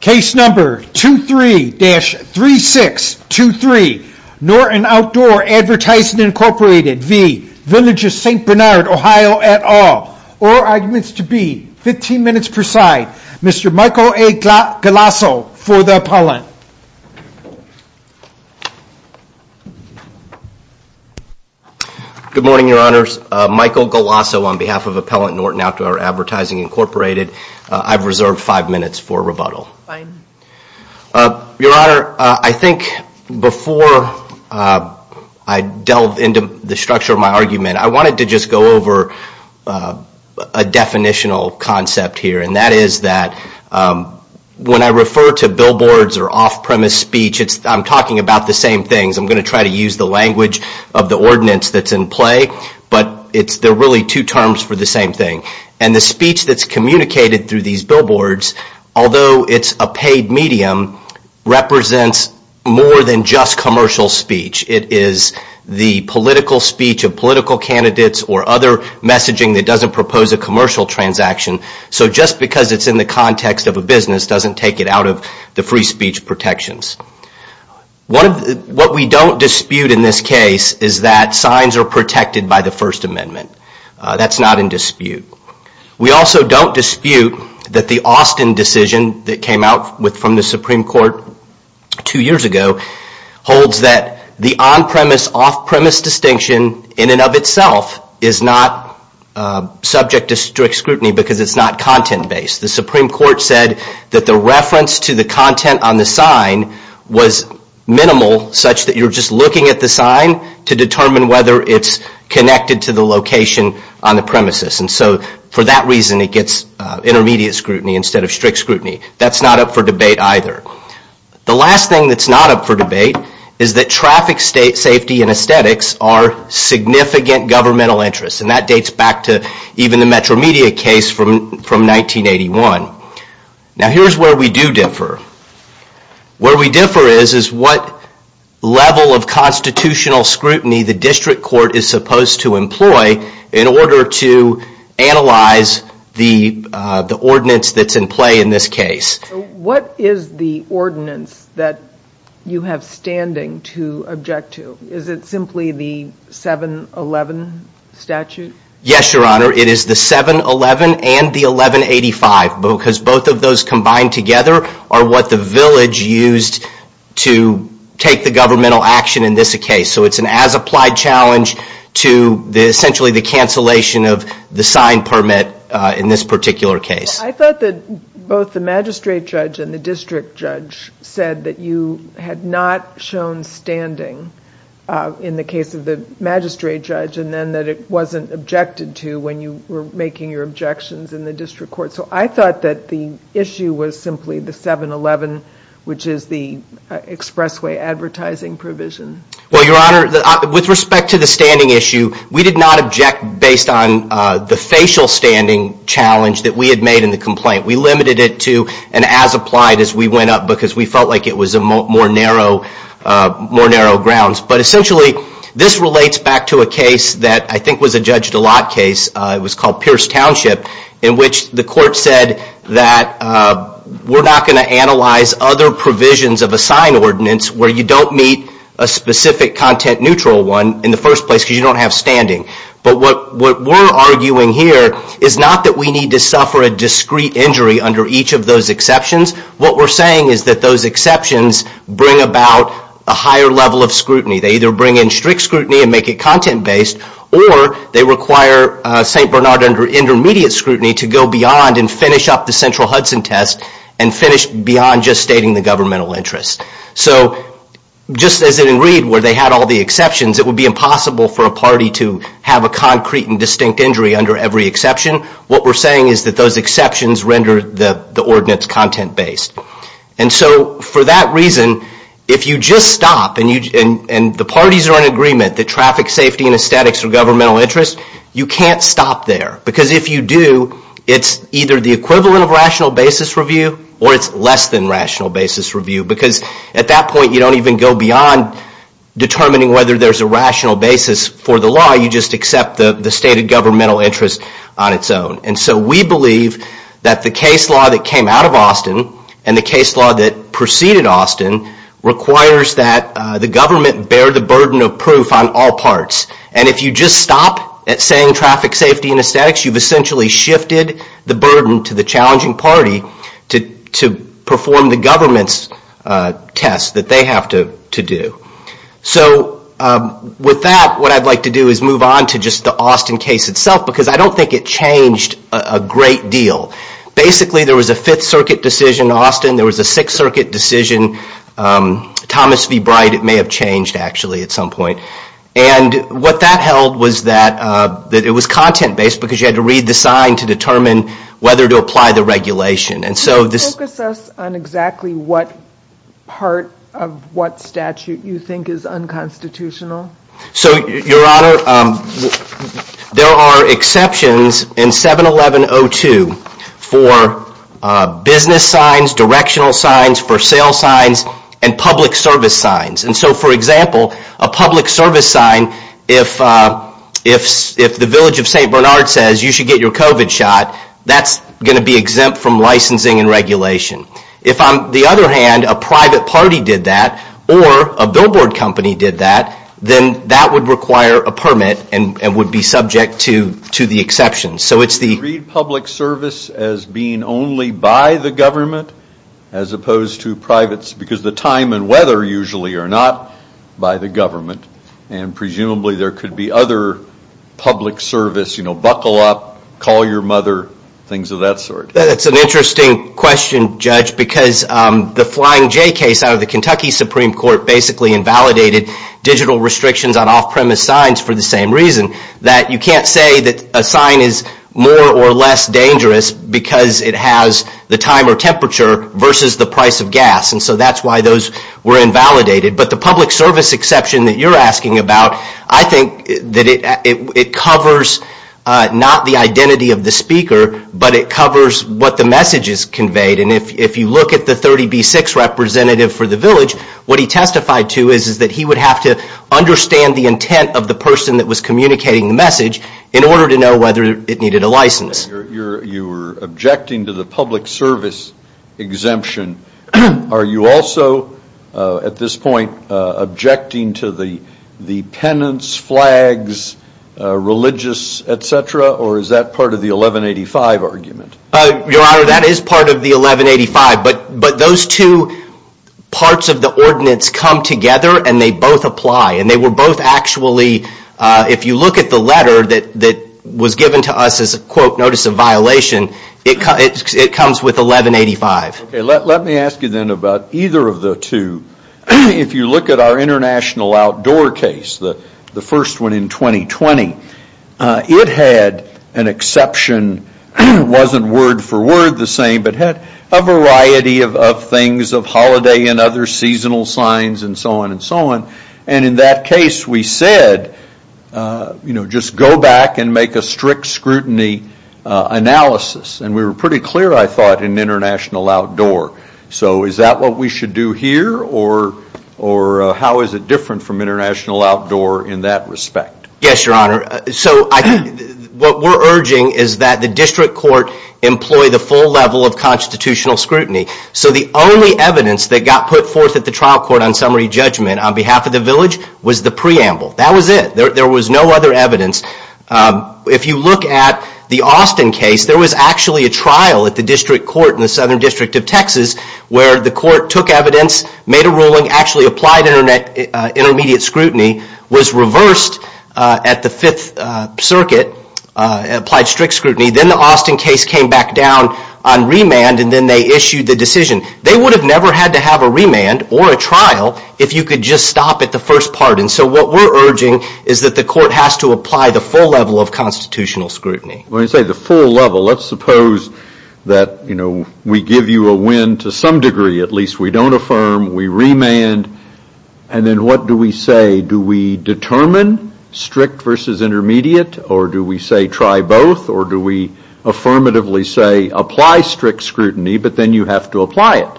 Case number 23-3623, Norton Outdoor Advertising Inc v. Village of St Bernard OH at all. All arguments to be 15 minutes per side. Mr. Michael A. Galasso for the appellant. Good morning, your honors. Michael Galasso on behalf of Appellant Norton Outdoor Advertising Inc. I've reserved five minutes for rebuttal. Your honor, I think before I delve into the structure of my argument, I wanted to just go over a definitional concept here, and that is that when I refer to billboards or off-premise speech, I'm talking about the same things. I'm going to try to use the language of the ordinance that's in play, but they're really two terms for the same thing. And the speech that's communicated through these billboards, although it's a paid medium, represents more than just commercial speech. It is the political speech of political candidates or other messaging that doesn't propose a commercial transaction. So just because it's in the context of a business doesn't take it out of the free speech protections. What we don't dispute in this case is that signs are protected by the First Amendment. That's not in dispute. We also don't dispute that the Austin decision that came out from the Supreme Court two years ago holds that the on-premise, off-premise distinction in and of itself is not subject to strict scrutiny because it's not content-based. The Supreme Court said that the reference to the content on the sign was minimal such that you're just looking at the sign to determine whether it's connected to the location on the premises. And so for that reason it gets intermediate scrutiny instead of strict scrutiny. That's not up for debate either. The last thing that's not up for debate is that traffic safety and aesthetics are significant governmental interests. And that dates back to even the Metromedia case from 1981. Now here's where we do differ. Where we differ is what level of constitutional scrutiny the district court is supposed to employ in order to analyze the ordinance that's in play in this case. What is the ordinance that you have standing to object to? Is it simply the 7-11 statute? Yes, Your Honor. It is the 7-11 and the 11-85 because both of those combined together are what the village used to take the governmental action in this case. So it's an as-applied challenge to essentially the cancellation of the sign permit in this particular case. I thought that both the magistrate judge and the district judge said that you had not shown standing in the case of the magistrate judge and then that it wasn't objected to when you were making your objections in the district court. So I thought that the issue was simply the 7-11, which is the expressway advertising provision. Well, Your Honor, with respect to the standing issue, we did not object based on the facial standing challenge that we had made in the complaint. We limited it to an as-applied as we went up because we felt like it was more narrow grounds. But essentially this relates back to a case that I think was a judge-to-lot case. It was called Pierce Township in which the court said that we're not going to analyze other provisions of a sign ordinance where you don't meet a specific content-neutral one in the first place because you don't have standing. But what we're arguing here is not that we need to suffer a discrete injury under each of those exceptions. What we're saying is that those exceptions bring about a higher level of scrutiny. They either bring in strict scrutiny and make it content-based or they require St. Bernard under intermediate scrutiny to go beyond and finish up the central Hudson test and finish beyond just stating the governmental interest. So just as in Reed where they had all the exceptions, it would be impossible for a party to have a concrete and distinct injury under every exception. What we're saying is that those exceptions render the ordinance content-based. And so for that reason, if you just stop and the parties are in agreement that traffic safety and aesthetics are governmental interests, you can't stop there. Because if you do, it's either the equivalent of rational basis review or it's less than rational basis review. Because at that point, you don't even go beyond determining whether there's a rational basis for the law. You just accept the stated governmental interest on its own. And so we believe that the case law that came out of Austin and the case law that preceded Austin requires that the government bear the burden of proof on all parts. And if you just stop at saying traffic safety and aesthetics, you've essentially shifted the burden to the challenging party to perform the government's test that they have to do. So with that, what I'd like to do is move on to just the Austin case itself because I don't think it changed a great deal. Basically, there was a Fifth Circuit decision in Austin. There was a Sixth Circuit decision. Thomas v. Bright, it may have changed actually at some point. And what that held was that it was content-based because you had to read the sign to determine whether to apply the regulation. Can you focus us on exactly what part of what statute you think is unconstitutional? So, Your Honor, there are exceptions in 711.02 for business signs, directional signs, for sale signs, and public service signs. And so, for example, a public service sign, if the village of St. Bernard says you should get your COVID shot, that's going to be exempt from licensing and regulation. If, on the other hand, a private party did that or a billboard company did that, then that would require a permit and would be subject to the exceptions. Do you read public service as being only by the government as opposed to privates? Because the time and weather usually are not by the government. And presumably there could be other public service, you know, buckle up, call your mother, things of that sort. That's an interesting question, Judge, because the Flying J case out of the Kentucky Supreme Court basically invalidated digital restrictions on off-premise signs for the same reason. That you can't say that a sign is more or less dangerous because it has the time or temperature versus the price of gas. And so that's why those were invalidated. But the public service exception that you're asking about, I think that it covers not the identity of the speaker, but it covers what the message is conveyed. And if you look at the 30B6 representative for the village, what he testified to is that he would have to understand the intent of the person that was communicating the message in order to know whether it needed a license. You're objecting to the public service exemption. Are you also, at this point, objecting to the penance, flags, religious, et cetera, or is that part of the 1185 argument? Your Honor, that is part of the 1185. But those two parts of the ordinance come together and they both apply, and they were both actually, if you look at the letter that was given to us as a, quote, notice of violation, it comes with 1185. Okay, let me ask you then about either of the two. If you look at our international outdoor case, the first one in 2020, it had an exception. It wasn't word for word the same, but had a variety of things of holiday and other seasonal signs and so on and so on, and in that case we said, you know, just go back and make a strict scrutiny analysis. And we were pretty clear, I thought, in international outdoor. So is that what we should do here, or how is it different from international outdoor in that respect? Yes, Your Honor. So what we're urging is that the district court employ the full level of constitutional scrutiny. So the only evidence that got put forth at the trial court on summary judgment on behalf of the village was the preamble. That was it. There was no other evidence. If you look at the Austin case, there was actually a trial at the district court in the Southern District of Texas where the court took evidence, made a ruling, actually applied intermediate scrutiny, was reversed at the Fifth Circuit, applied strict scrutiny. Then the Austin case came back down on remand and then they issued the decision. They would have never had to have a remand or a trial if you could just stop at the first part. And so what we're urging is that the court has to apply the full level of constitutional scrutiny. When you say the full level, let's suppose that, you know, we give you a win to some degree, at least we don't affirm, we remand, and then what do we say? Do we determine strict versus intermediate, or do we say try both, or do we affirmatively say apply strict scrutiny, but then you have to apply it?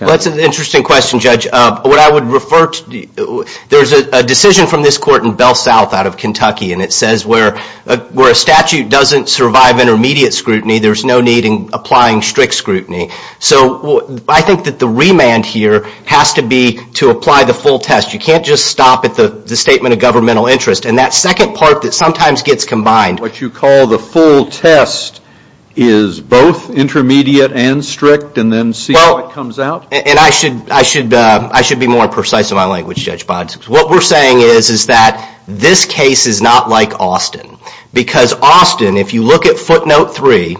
Well, that's an interesting question, Judge. What I would refer to, there's a decision from this court in Bell South out of Kentucky, and it says where a statute doesn't survive intermediate scrutiny, there's no need in applying strict scrutiny. So I think that the remand here has to be to apply the full test. You can't just stop at the statement of governmental interest. And that second part that sometimes gets combined, What you call the full test is both intermediate and strict, and then see how it comes out? And I should be more precise in my language, Judge Bonds. What we're saying is that this case is not like Austin. Because Austin, if you look at footnote 3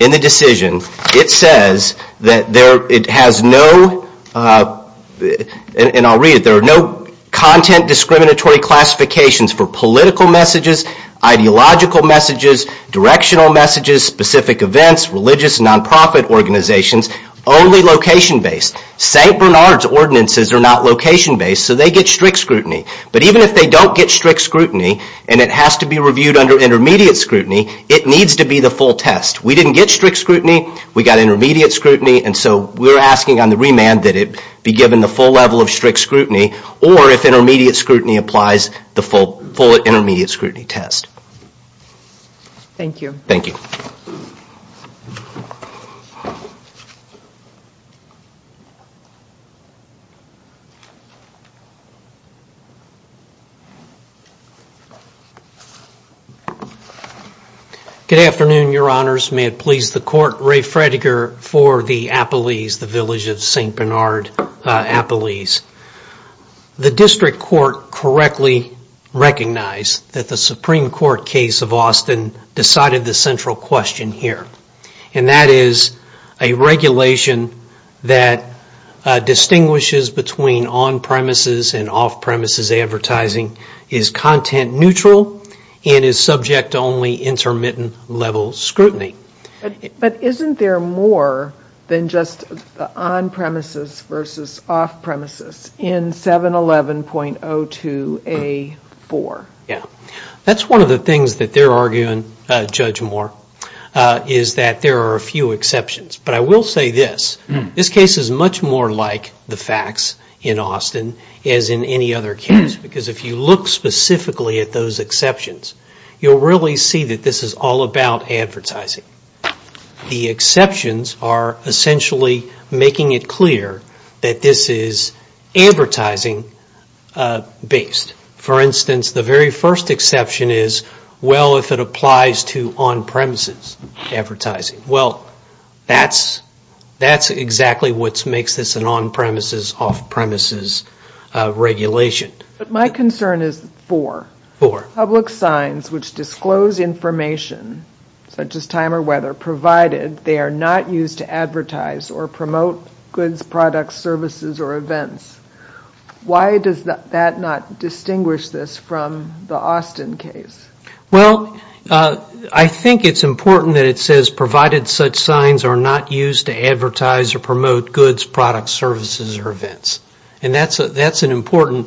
in the decision, it says that it has no, and I'll read it, there are no content discriminatory classifications for political messages, ideological messages, directional messages, specific events, religious non-profit organizations, only location-based. St. Bernard's ordinances are not location-based, so they get strict scrutiny. But even if they don't get strict scrutiny, and it has to be reviewed under intermediate scrutiny, it needs to be the full test. We didn't get strict scrutiny, we got intermediate scrutiny, and so we're asking on the remand that it be given the full level of strict scrutiny, or if intermediate scrutiny applies, the full intermediate scrutiny test. Thank you. Thank you. Good afternoon, Your Honors. May it please the Court, Ray Fredegar for the Appalese, the village of St. Bernard Appalese. The district court correctly recognized that the Supreme Court case of Austin decided the central question here, and that is a regulation that distinguishes between on-premises and off-premises advertising is content neutral and is subject to only intermittent level scrutiny. But isn't there more than just on-premises versus off-premises in 711.02A4? Yeah. That's one of the things that they're arguing, Judge Moore, is that there are a few exceptions. But I will say this. This case is much more like the facts in Austin as in any other case, because if you look specifically at those exceptions, you'll really see that this is all about advertising. The exceptions are essentially making it clear that this is advertising-based. For instance, the very first exception is, well, if it applies to on-premises advertising. Well, that's exactly what makes this an on-premises, off-premises regulation. But my concern is four. Four. Public signs which disclose information, such as time or weather, provided they are not used to advertise or promote goods, products, services, or events. Why does that not distinguish this from the Austin case? Well, I think it's important that it says provided such signs are not used to advertise or promote goods, products, services, or events. And that's an important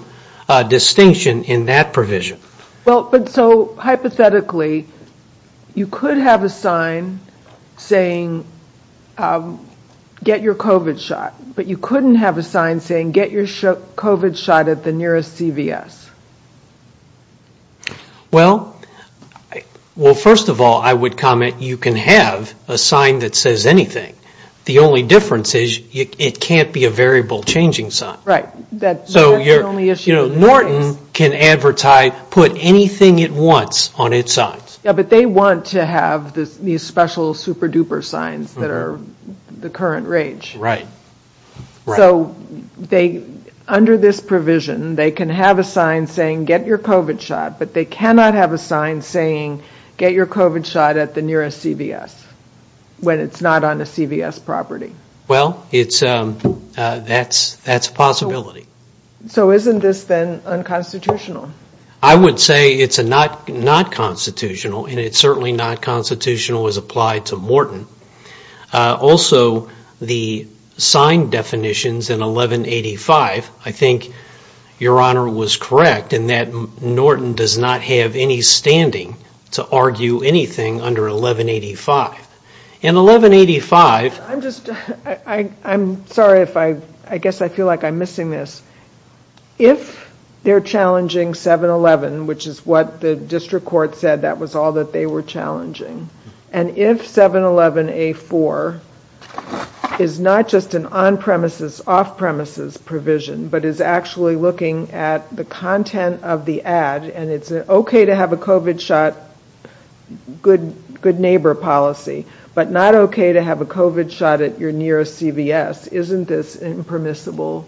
distinction in that provision. Well, but so hypothetically, you could have a sign saying get your COVID shot, but you couldn't have a sign saying get your COVID shot at the nearest CVS. Well, first of all, I would comment you can have a sign that says anything. The only difference is it can't be a variable changing sign. Right. So Norton can advertise, put anything it wants on its signs. Yeah, but they want to have these special super-duper signs that are the current rage. Right. So under this provision, they can have a sign saying get your COVID shot, but they cannot have a sign saying get your COVID shot at the nearest CVS when it's not on a CVS property. Well, that's a possibility. So isn't this then unconstitutional? I would say it's not constitutional, and it's certainly not constitutional as applied to Norton. Also, the sign definitions in 1185, I think Your Honor was correct in that Norton does not have any standing to argue anything under 1185. In 1185... I'm sorry if I... I guess I feel like I'm missing this. If they're challenging 711, which is what the district court said that was all that they were challenging, and if 711A4 is not just an on-premises, off-premises provision, but is actually looking at the content of the ad, and it's okay to have a COVID shot, good neighbor policy, but not okay to have a COVID shot at your nearest CVS. Isn't this impermissible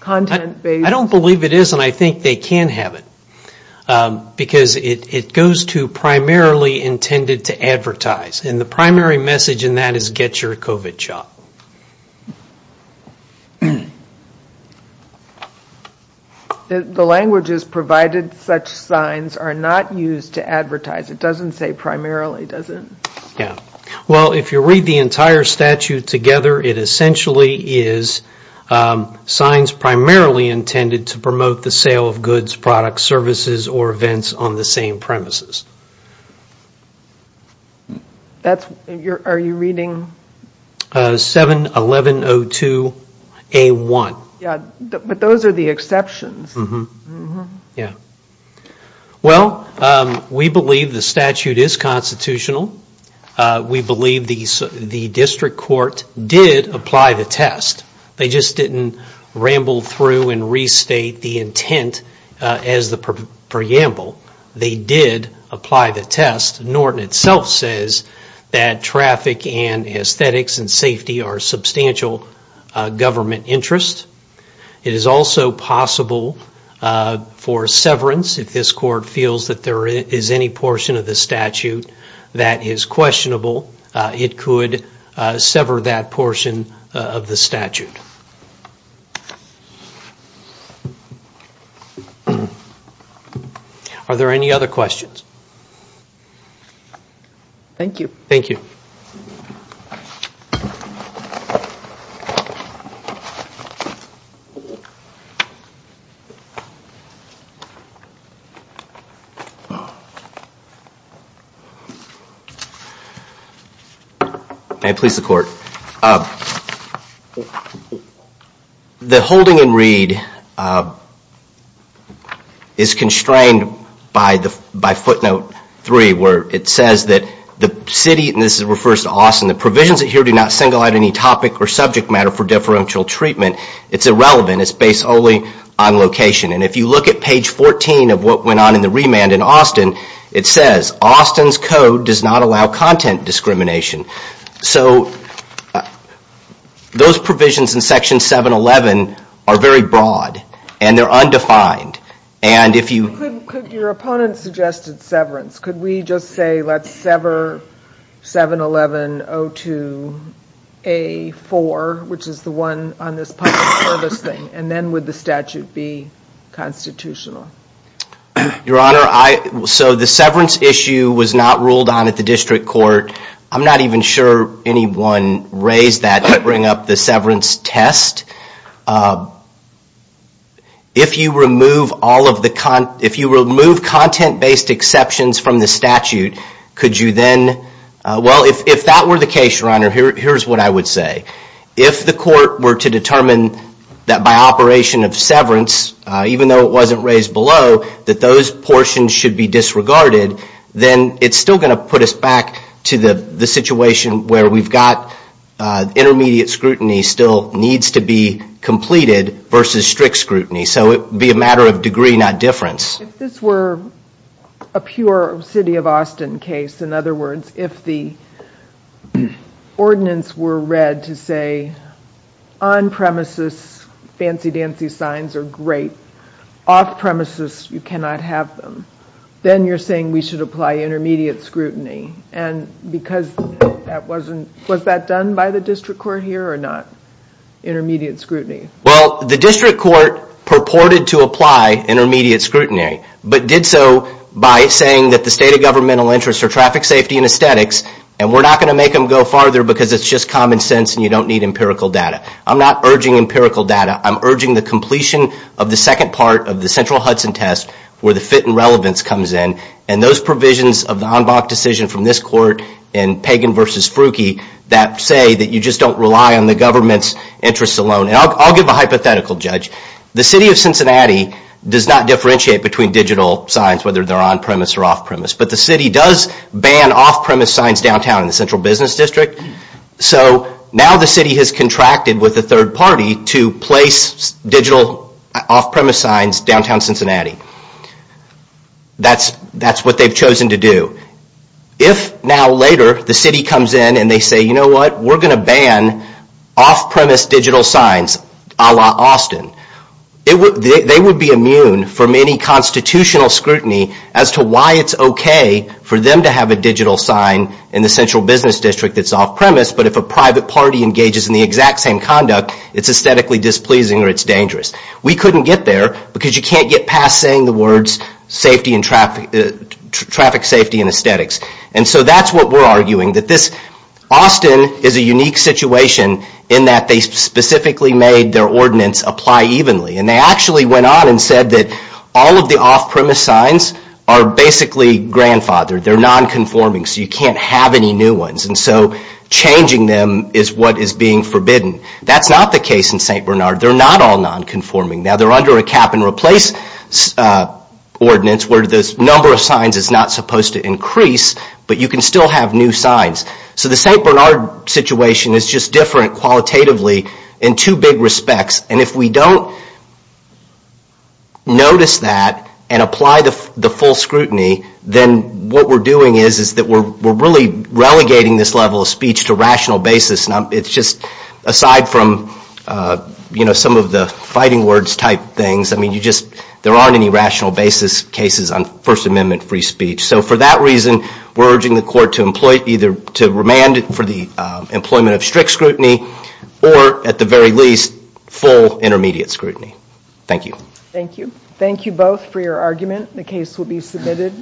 content-based? I don't believe it is, and I think they can have it because it goes to primarily intended to advertise, and the primary message in that is get your COVID shot. The languages provided such signs are not used to advertise. It doesn't say primarily, does it? Yeah. Well, if you read the entire statute together, it essentially is signs primarily intended to promote the sale of goods, products, services, or events on the same premises. Are you reading... 71102A1. Yeah, but those are the exceptions. Yeah. Well, we believe the statute is constitutional. We believe the district court did apply the test. They just didn't ramble through and restate the intent as the preamble. They did apply the test. Norton itself says that traffic and aesthetics and safety are substantial government interest. It is also possible for severance. If this court feels that there is any portion of the statute that is questionable, it could sever that portion of the statute. Are there any other questions? Thank you. Thank you. May it please the court. The holding and read is constrained by footnote 3 where it says that the city, and this refers to Austin, the provisions here do not single out any topic or subject matter for deferential treatment. It's irrelevant. It's based only on location. And if you look at page 14 of what went on in the remand in Austin, it says Austin's code does not allow content discrimination. So those provisions in section 711 are very broad and they're undefined. And if you... Could your opponent suggest severance? Could we just say let's sever 711-02-A-4, which is the one on this public service thing, and then would the statute be constitutional? Your Honor, so the severance issue was not ruled on at the district court. I'm not even sure anyone raised that to bring up the severance test. If you remove content-based exceptions from the statute, could you then... Well, if that were the case, Your Honor, here's what I would say. If the court were to determine that by operation of severance, even though it wasn't raised below, that those portions should be disregarded, then it's still going to put us back to the situation where we've got intermediate scrutiny still needs to be completed versus strict scrutiny. So it would be a matter of degree, not difference. If this were a pure City of Austin case, in other words, if the ordinance were read to say on-premises, fancy-dancy signs are great. Off-premises, you cannot have them. Then you're saying we should apply intermediate scrutiny. Was that done by the district court here or not? Intermediate scrutiny. Well, the district court purported to apply intermediate scrutiny, but did so by saying that the state of governmental interest for traffic safety and aesthetics, and we're not going to make them go farther because it's just common sense and you don't need empirical data. I'm not urging empirical data. I'm urging the completion of the second part of the central Hudson test where the fit and relevance comes in, and those provisions of the Anbach decision from this court and Pagan v. Frookey that say that you just don't rely on the government's interests alone. I'll give a hypothetical, Judge. The City of Cincinnati does not differentiate between digital signs, whether they're on-premise or off-premise, but the City does ban off-premise signs downtown in the Central Business District. So now the City has contracted with the third party to place digital off-premise signs downtown Cincinnati. That's what they've chosen to do. If now later the City comes in and they say, you know what, we're going to ban off-premise digital signs a la Austin, they would be immune from any constitutional scrutiny as to why it's okay for them to have a digital sign in the Central Business District that's off-premise, but if a private party engages in the exact same conduct, it's aesthetically displeasing or it's dangerous. We couldn't get there because you can't get past saying the words traffic safety and aesthetics. So that's what we're arguing. Austin is a unique situation in that they specifically made their ordinance apply evenly. They actually went on and said that all of the off-premise signs are basically grandfathered. They're non-conforming, so you can't have any new ones. So changing them is what is being forbidden. That's not the case in St. Bernard. They're not all non-conforming. Now they're under a cap-and-replace ordinance where the number of signs is not supposed to increase, but you can still have new signs. So the St. Bernard situation is just different qualitatively in two big respects, and if we don't notice that and apply the full scrutiny, then what we're doing is that we're really relegating this level of speech to rational basis. Aside from some of the fighting words type things, there aren't any rational basis cases on First Amendment free speech. So for that reason, we're urging the Court to either remand it for the employment of strict scrutiny or, at the very least, full intermediate scrutiny. Thank you. Thank you. Thank you both for your argument. The case will be submitted.